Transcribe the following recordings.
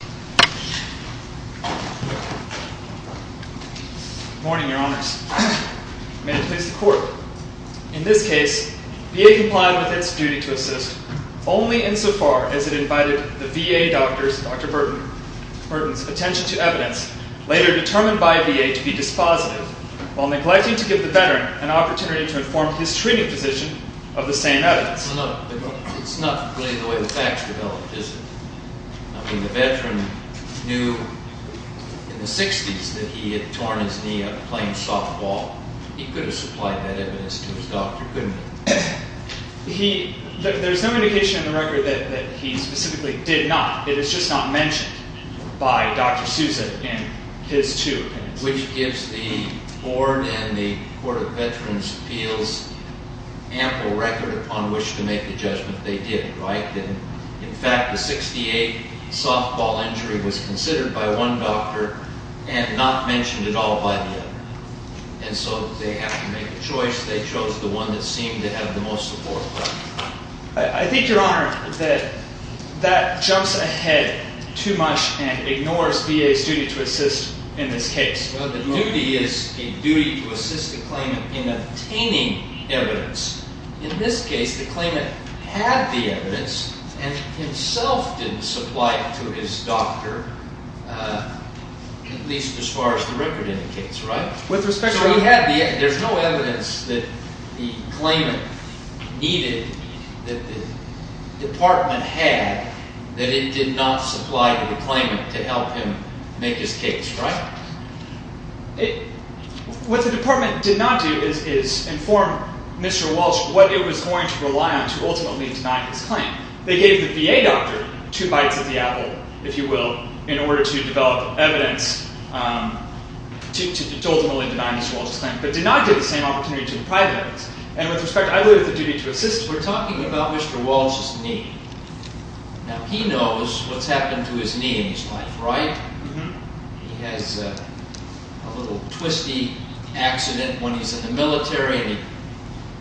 Good morning, your honors. May it please the court, in this case, VA complied with its duty to assist only insofar as it invited the VA doctor's, Dr. Burton's, attention to evidence later determined by VA to be dispositive while neglecting to give the veteran an opportunity to inform his treating physician of the same evidence. It's not really the way the facts develop, is it? I mean, the veteran knew in the 60s that he had torn his knee up playing softball. He could have supplied that evidence to his doctor, couldn't he? There's no indication in the record that he specifically did not. It is just not mentioned by Dr. Sousa in his two opinions. Which gives the board and the Court of Veterans' Appeals ample record upon which to make the judgment they did, right? In fact, the 68 softball injury was considered by one doctor and not mentioned at all by the other. And so they have to make a choice. They chose the one that seemed to have the most support. I think, Your Honor, that that jumps ahead too much and ignores VA's duty to assist in this case. The duty is a duty to assist the claimant in obtaining evidence. In this case, the claimant had the evidence and himself didn't supply it to his doctor, at least as far as the record indicates, right? So there's no evidence that the claimant needed, that the department had, that it did not supply to the claimant to help him make his case, right? What the department did not do is inform Mr. Walsh what it was going to rely on to ultimately deny his claim. They gave the VA doctor two bites of the apple, if you will, in order to develop evidence to ultimately deny Mr. Walsh's claim, but did not give the same opportunity to the private evidence. And with respect, I believe it's the duty to assist. We're talking about Mr. Walsh's knee. Now, he knows what's happened to his knee in his life, right? He has a little twisty accident when he's in the military and he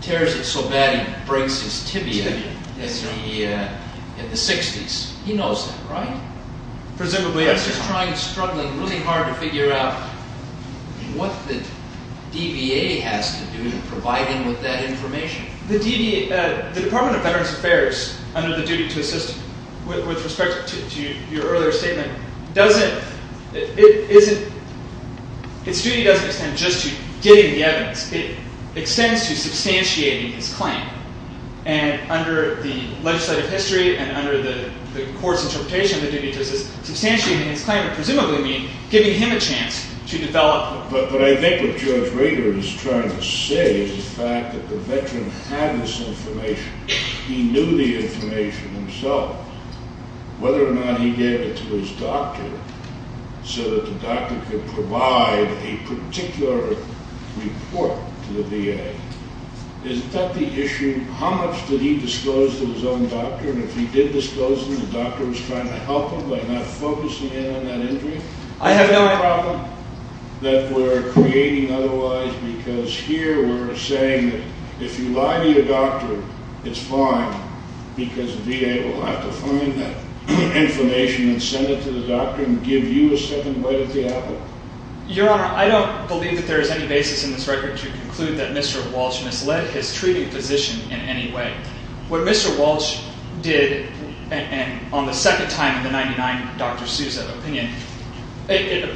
tears it so bad he breaks his tibia in the 60s. He knows that, right? Presumably, yes. He's trying, struggling really hard to figure out what the DVA has to do to provide him with that information. The Department of Veterans Affairs, under the duty to assist, with respect to your earlier statement, doesn't – its duty doesn't extend just to getting the evidence. It extends to substantiating his claim. And under the legislative history and under the court's interpretation of the duty to assist, substantiating his claim would presumably mean giving him a chance to develop – to have this information. He knew the information himself. Whether or not he gave it to his doctor so that the doctor could provide a particular report to the VA, is that the issue? How much did he disclose to his own doctor? And if he did disclose to him, the doctor was trying to help him by not focusing in on that injury? I have no problem that we're creating otherwise because here we're saying that if you lie to your doctor, it's fine because the VA will have to find that information and send it to the doctor and give you a second word if they have it. Your Honor, I don't believe that there is any basis in this record to conclude that Mr. Walsh misled his treating physician in any way. What Mr. Walsh did on the second time in the 1999 Dr. Sousa opinion, it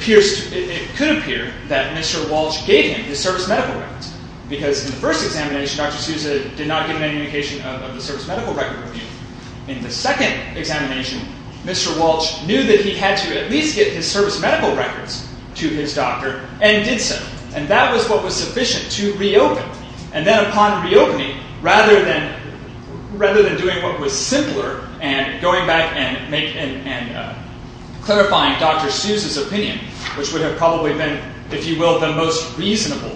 could appear that Mr. Walsh gave him his service medical records because in the first examination, Dr. Sousa did not give any indication of the service medical record with him. In the second examination, Mr. Walsh knew that he had to at least get his service medical records to his doctor and did so. And that was what was sufficient to reopen. And then upon reopening, rather than doing what was simpler and going back and clarifying Dr. Sousa's opinion, which would have probably been, if you will, the most reasonable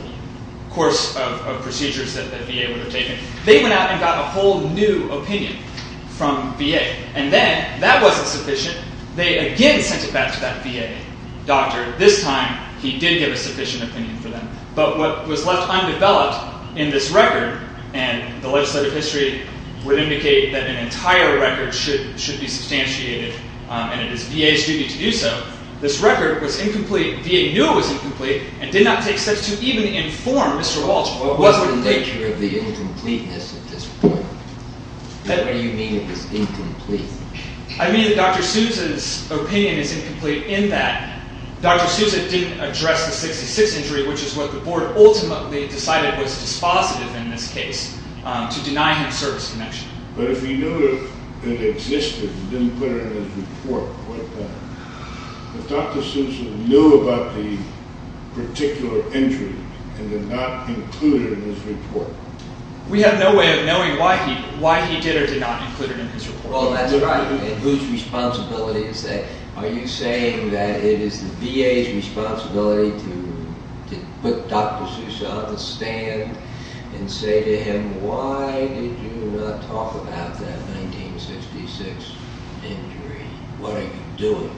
course of procedures that the VA would have taken, they went out and got a whole new opinion from VA. And then that wasn't sufficient. They again sent it back to that VA doctor. This time, he did give a sufficient opinion for them. But what was left undeveloped in this record, and the legislative history would indicate that an entire record should be substantiated, and it is VA's duty to do so, this record was incomplete. VA knew it was incomplete and did not take steps to even inform Mr. Walsh what was the nature of the incompleteness at this point. What do you mean it was incomplete? I mean Dr. Sousa's opinion is incomplete in that Dr. Sousa didn't address the 66 injury, which is what the board ultimately decided was dispositive in this case, to deny him service connection. But if he knew it existed and didn't put it in his report, what then? If Dr. Sousa knew about the particular injury and did not include it in his report? We have no way of knowing why he did or did not include it in his report. Well, that's right. And whose responsibility is that? Are you saying that it is the VA's responsibility to put Dr. Sousa on the stand and say to him, why did you not talk about that 1966 injury? What are you doing?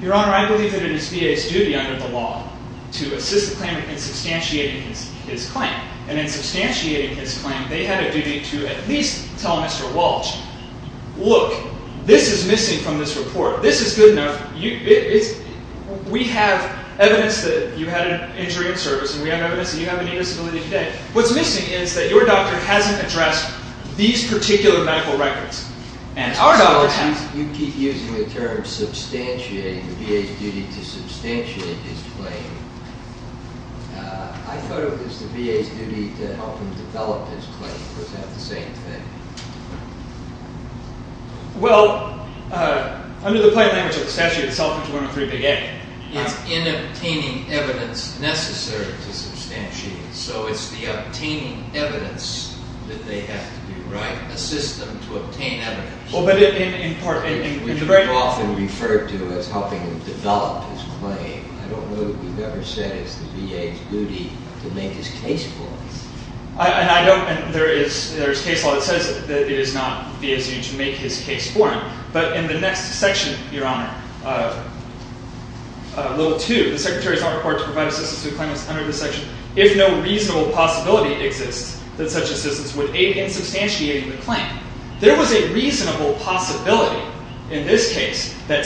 Your Honor, I believe that it is VA's duty under the law to assist the claimant in substantiating his claim. And in substantiating his claim, they had a duty to at least tell Mr. Walsh, look, this is missing from this report. This is good enough. We have evidence that you had an injury in service, and we have evidence that you have an disability today. What's missing is that your doctor hasn't addressed these particular medical records. You keep using the term substantiating. The VA's duty to substantiate his claim. I thought it was the VA's duty to help him develop his claim. Was that the same thing? Well, under the plain language of the statute, it's self-inflicted injury under 3A. It's in obtaining evidence necessary to substantiate. So it's the obtaining evidence that they have to do. Well, but in part, in the very law. We've often referred to it as helping him develop his claim. I don't know that we've ever said it's the VA's duty to make his case for him. I don't, and there is case law that says that it is not VA's duty to make his case for him. But in the next section, Your Honor, level 2, the Secretary's Honor Report to Provide Assistance to Claimants under this section, if no reasonable possibility exists that such assistance would aid in substantiating the claim. There was a reasonable possibility in this case that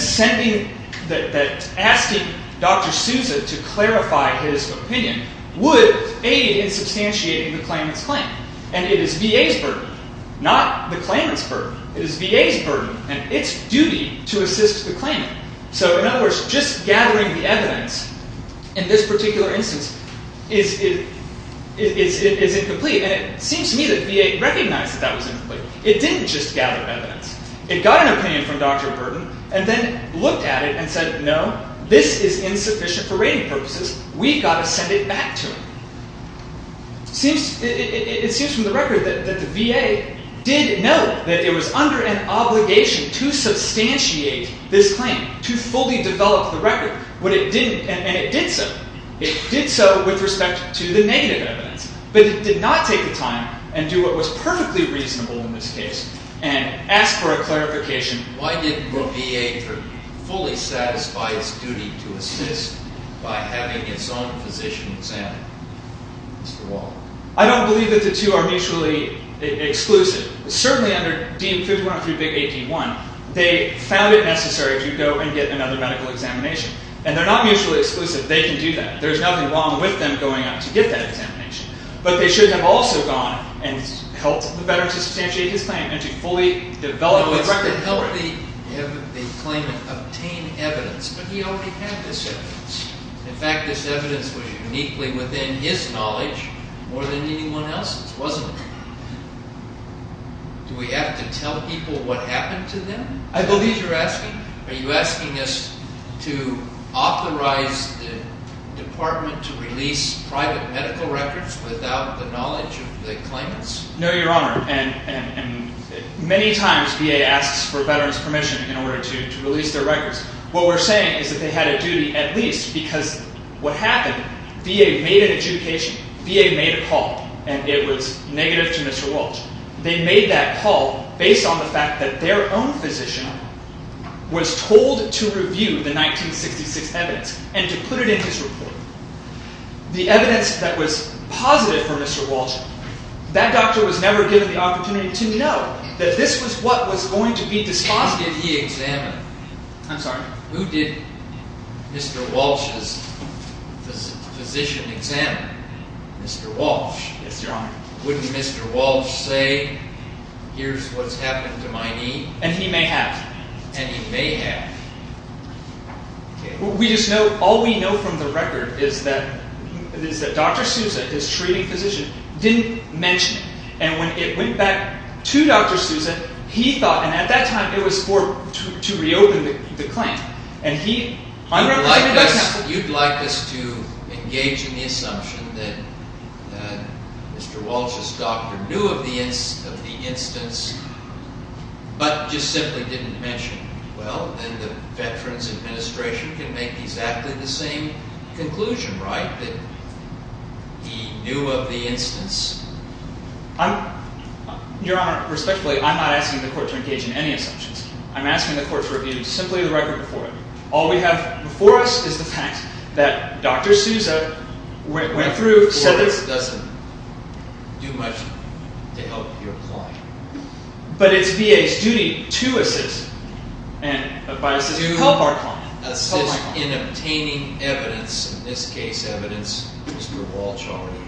asking Dr. Sousa to clarify his opinion would aid in substantiating the claimant's claim. And it is VA's burden, not the claimant's burden. It is VA's burden and its duty to assist the claimant. So in other words, just gathering the evidence in this particular instance is incomplete. And it seems to me that VA recognized that that was incomplete. It didn't just gather evidence. It got an opinion from Dr. Burton and then looked at it and said, no, this is insufficient for rating purposes. We've got to send it back to him. It seems from the record that the VA did note that it was under an obligation to substantiate this claim, to fully develop the record. And it did so. It did so with respect to the negative evidence. But it did not take the time and do what was perfectly reasonable in this case and ask for a clarification. Why didn't the VA fully satisfy its duty to assist by having its own physician examined? Mr. Walker. I don't believe that the two are mutually exclusive. Certainly under Dean 5103B-81, they found it necessary to go and get another medical examination. And they're not mutually exclusive. They can do that. There's nothing wrong with them going out to get that examination. But they should have also gone and helped the veteran to substantiate his claim and to fully develop the record. They helped the claimant obtain evidence. But he already had this evidence. In fact, this evidence was uniquely within his knowledge more than anyone else's, wasn't it? Do we have to tell people what happened to them? I believe you're asking, are you asking us to authorize the department to release private medical records without the knowledge of the claimants? No, Your Honor. And many times VA asks for veterans' permission in order to release their records. What we're saying is that they had a duty at least because what happened, VA made an adjudication. VA made a call, and it was negative to Mr. Walsh. They made that call based on the fact that their own physician was told to review the 1966 evidence and to put it in his report. The evidence that was positive for Mr. Walsh, that doctor was never given the opportunity to know that this was what was going to be disposed of. Who did he examine? I'm sorry. Who did Mr. Walsh's physician examine? Mr. Walsh. Yes, Your Honor. Wouldn't Mr. Walsh say, here's what's happened to my knee? And he may have. And he may have. We just know, all we know from the record is that Dr. Sousa, his treating physician, didn't mention it. And when it went back to Dr. Sousa, he thought, and at that time it was for, to reopen the claim. And he, I'm not saying it doesn't happen. You'd like us to engage in the assumption that Mr. Walsh's doctor knew of the instance, but just simply didn't mention it. Well, then the Veterans Administration can make exactly the same conclusion, right? That he knew of the instance. I'm, Your Honor, respectfully, I'm not asking the court to engage in any assumptions. I'm asking the court to review simply the record before it. All we have before us is the fact that Dr. Sousa went through, said this. It doesn't do much to help your point. But it's VA's duty to assist. To help our client. Assist in obtaining evidence, in this case evidence Mr. Walsh already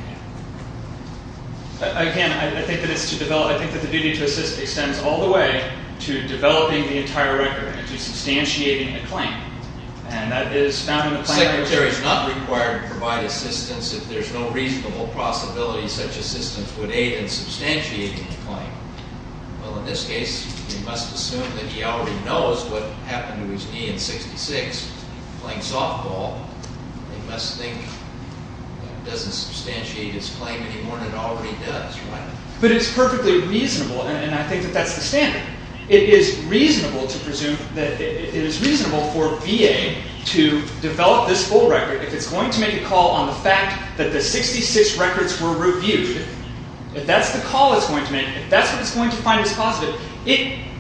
had. Again, I think that it's to develop, I think that the duty to assist extends all the way to developing the entire record and to substantiating the claim. Secretary's not required to provide assistance if there's no reasonable possibility such assistance would aid in substantiating the claim. Well, in this case, we must assume that he already knows what happened to his knee in 66, playing softball. He must think it doesn't substantiate his claim any more than it already does, right? But it's perfectly reasonable, and I think that that's the standard. It is reasonable for VA to develop this full record if it's going to make a call on the fact that the 66 records were reviewed. If that's the call it's going to make, if that's what it's going to find as positive, VA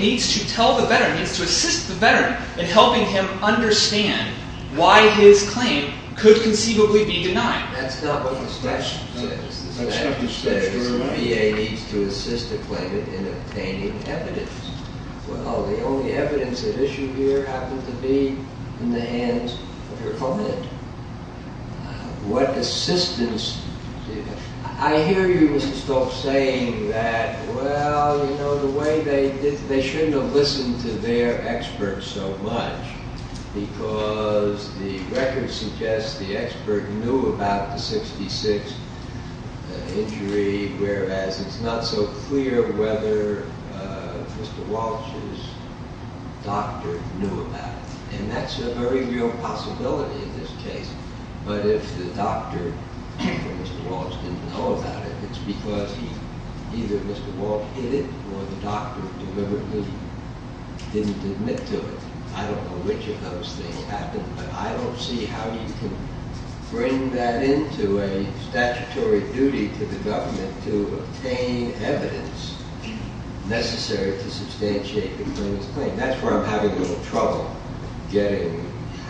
needs to tell the veteran, needs to assist the veteran in helping him understand why his claim could conceivably be denied. That's not what the statute says. The statute says VA needs to assist the claimant in obtaining evidence. Well, the only evidence at issue here happened to be in the hands of your client. What assistance? I hear you, Mr. Stoltz, saying that, well, you know, the way they did, they shouldn't have listened to their experts so much because the record suggests the expert knew about the 66 injury, whereas it's not so clear whether Mr. Walsh's doctor knew about it. And that's a very real possibility in this case. But if the doctor or Mr. Walsh didn't know about it, it's because either Mr. Walsh hid it or the doctor deliberately didn't admit to it. I don't know which of those things happened, but I don't see how you can bring that into a statutory duty to the government to obtain evidence necessary to substantiate the claimant's claim. That's where I'm having a little trouble getting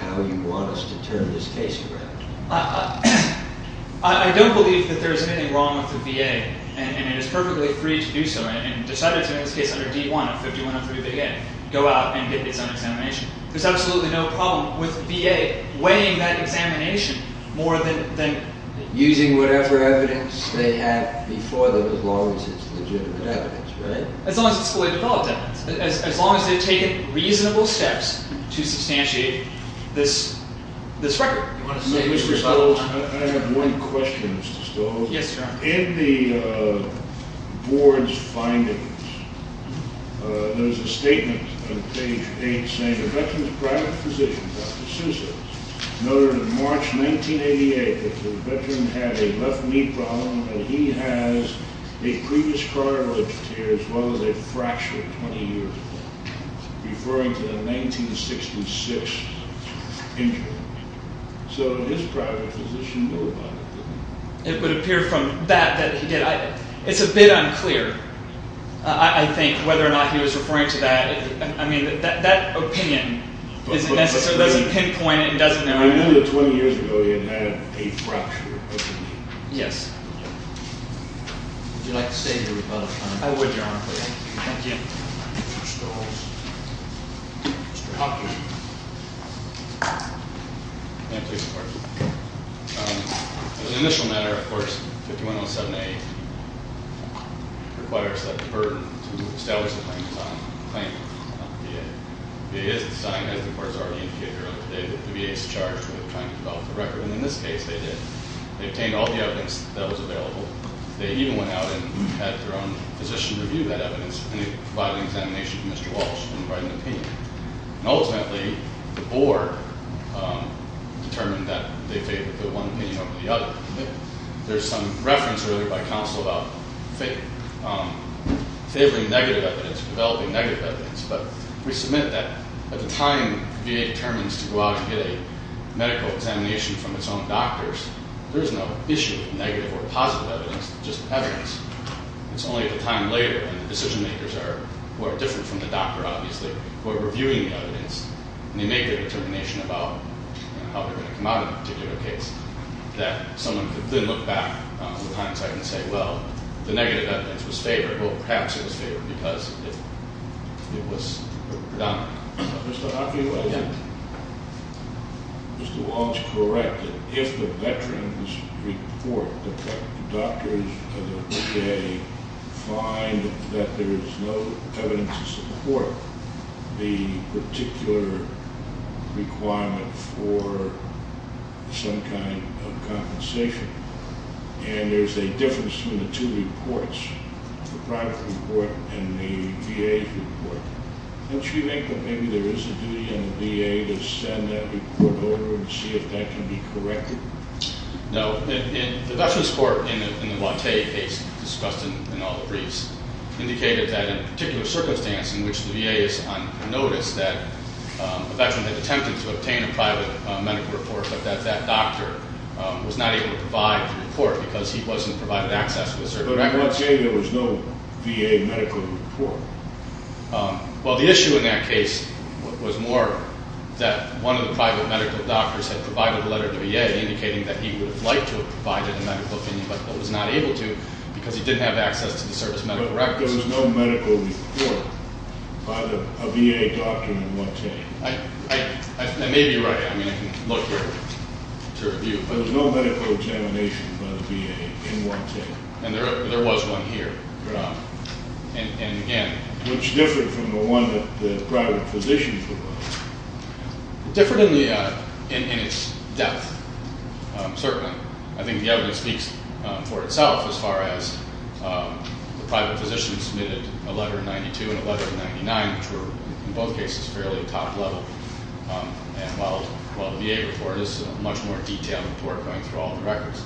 how you want us to turn this case around. I don't believe that there's anything wrong with the VA, and it is perfectly free to do so, and decided to, in this case, under D-1 of 5103 big A, go out and get its own examination. There's absolutely no problem with VA weighing that examination more than using whatever evidence they have before them as long as it's legitimate evidence, right? As long as it's fully developed evidence, as long as they've taken reasonable steps to substantiate this record. Do you want to say- Mr. Stolz, I have one question, Mr. Stolz. Yes, sir. In the board's findings, there's a statement on page 8 saying, It would appear from that that he did. It's a bit unclear, I think, whether or not he was referring to that. I mean, that opinion doesn't necessarily pinpoint it and doesn't know- I know that 20 years ago, you had a fractured opinion. Yes. Would you like to state your rebuttal, please? I would, Your Honor. Thank you. Mr. Stolz. Mr. Hopkins. May I please report? As an initial matter, of course, 5107A requires that the burden to establish the claim is on the VA. It is a sign, as the court has already indicated earlier today, that the VA is charged with trying to develop the record. And in this case, they did. They obtained all the evidence that was available. They even went out and had their own physician review that evidence. And they provided an examination to Mr. Walsh and provided an opinion. And ultimately, the board determined that they favored the one opinion over the other. There's some reference earlier by counsel about favoring negative evidence, developing negative evidence. But we submit that at the time VA determines to go out and get a medical examination from its own doctors, there is no issue with negative or positive evidence, just evidence. It's only at the time later when the decision makers are, who are different from the doctor, obviously, who are reviewing the evidence, and they make their determination about how they're going to come out of the particular case, that someone could then look back on the hindsight and say, well, the negative evidence was favored. Well, perhaps it was favored because it was predominant. Mr. Hopkins, was it? Yeah. If the veterans report that the doctors of the VA find that there's no evidence to support the particular requirement for some kind of compensation, and there's a difference between the two reports, the private report and the VA report, don't you think that maybe there is a duty on the VA to send that report over and see if that can be corrected? No. The veterans report in the Watte case, discussed in all the briefs, indicated that in a particular circumstance in which the VA is on notice that a veteran had attempted to obtain a private medical report, but that that doctor was not able to provide the report because he wasn't provided access to a certain record. In the Watte case, there was no VA medical report. Well, the issue in that case was more that one of the private medical doctors had provided a letter to a VA indicating that he would have liked to have provided a medical opinion, but was not able to because he didn't have access to the service medical records. But there was no medical report by a VA doctor in the Watte case. I may be right. I mean, I can look here to review. There was no medical examination by the VA in the Watte case. And there was one here. Which differed from the one that the private physicians were on. It differed in its depth, certainly. I think the evidence speaks for itself as far as the private physicians submitted a letter in 1992 and a letter in 1999, which were in both cases fairly top level. And while the VA report is a much more detailed report going through all the records.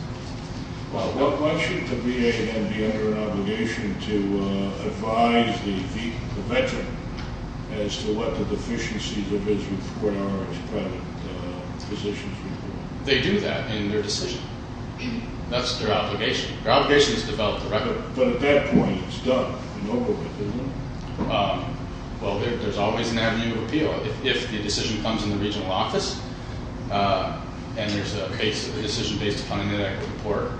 Well, why shouldn't the VA then be under an obligation to advise the veteran as to what the deficiencies of his report are as private physicians? They do that in their decision. That's their obligation. Their obligation is to develop the record. But at that point, it's done and over with, isn't it? Well, there's always an avenue of appeal. If the decision comes in the regional office, and there's a case of a decision based upon an inadequate report,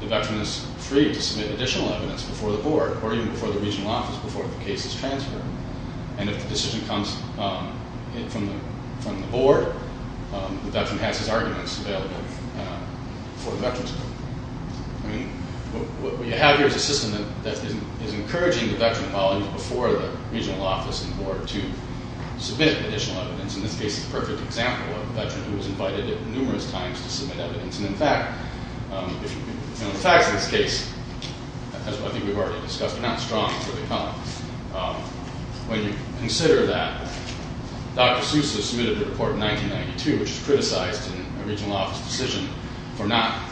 the veteran is free to submit additional evidence before the board or even before the regional office before the case is transferred. And if the decision comes from the board, the veteran has his arguments available for the veterans. I mean, what you have here is a system that is encouraging the veteran while he's before the regional office and board to submit additional evidence. In this case, it's a perfect example of a veteran who was invited numerous times to submit evidence. And, in fact, in the facts of this case, as I think we've already discussed, they're not strong, so they come up. When you consider that Dr. Seuss has submitted a report in 1992, which is criticized in a regional office decision, for not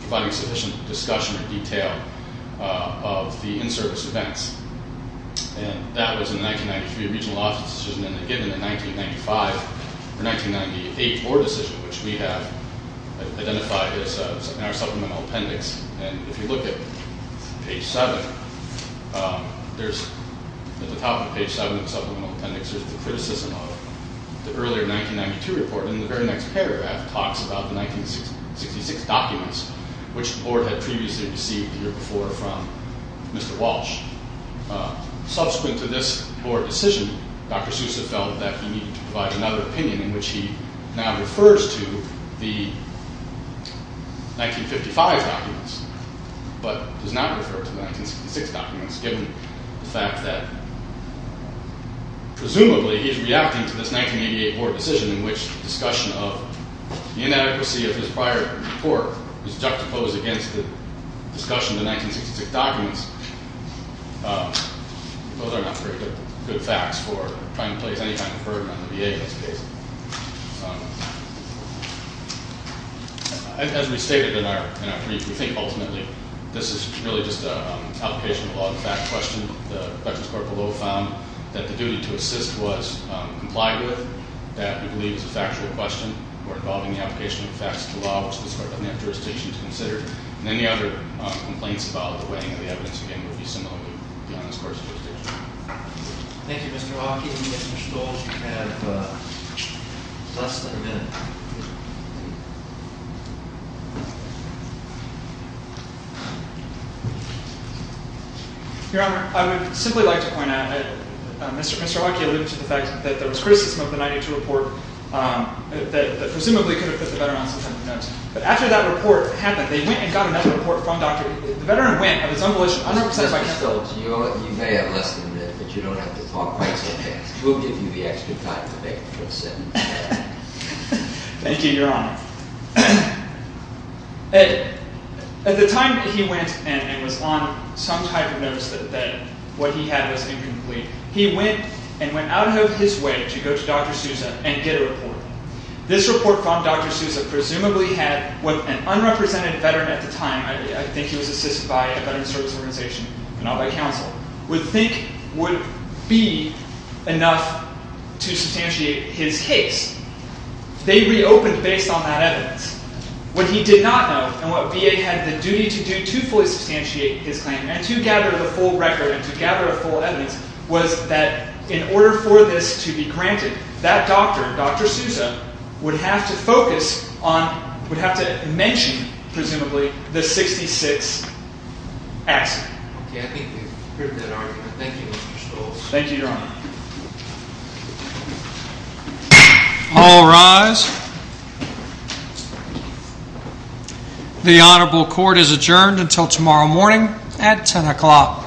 providing sufficient discussion or detail of the in-service events. And that was in 1993, a regional office decision, and then given in 1995, or 1998, a board decision, which we have identified in our supplemental appendix. And if you look at page 7, there's, at the top of page 7 of the supplemental appendix, there's the criticism of the earlier 1992 report. And the very next paragraph talks about the 1966 documents, which the board had previously received the year before from Mr. Walsh. Subsequent to this board decision, Dr. Seuss has felt that he needed to provide another opinion, in which he now refers to the 1955 documents, but does not refer to the 1966 documents, given the fact that, presumably, he's reacting to this 1988 board decision, in which discussion of the inadequacy of his prior report is juxtaposed against the discussion of the 1966 documents. Those are not very good facts for trying to place any kind of burden on the VA in this case. As we stated in our brief, we think, ultimately, this is really just an application of the law and a fact question. The Justice Court below found that the duty to assist was complied with, that we believe is a factual question, or involving the application of the facts of the law, which the Justice Court doesn't have jurisdiction to consider, and any other complaints about the weighting of the evidence, again, would be similarly beyond this Court's jurisdiction. Thank you, Mr. Hawkey. Mr. Stoltz, you have less than a minute. Your Honor, I would simply like to point out that Mr. Hawkey alluded to the fact that there was criticism of the 1992 report, that presumably could have put the veteran on some type of notice. But after that report happened, they went and got another report from Dr. Sousa. The veteran went of his own volition, unrepresented by counsel. Mr. Stoltz, you may have less than a minute, but you don't have to talk quite so fast. We'll give you the extra time today for the sentence. Thank you, Your Honor. At the time that he went and was on some type of notice that what he had was incomplete, he went and went out of his way to go to Dr. Sousa and get a report. This report from Dr. Sousa presumably had what an unrepresented veteran at the time, I think he was assisted by a veteran's service organization, not by counsel, would think would be enough to substantiate his case. They reopened based on that evidence. What he did not know, and what VA had the duty to do to fully substantiate his claim and to gather the full record and to gather a full evidence, was that in order for this to be granted, that doctor, Dr. Sousa, would have to focus on, would have to mention, presumably, the 66 accident. Okay, I think we've heard that argument. Thank you, Mr. Stoltz. Thank you, Your Honor. All rise. The honorable court is adjourned until tomorrow morning at 10 o'clock.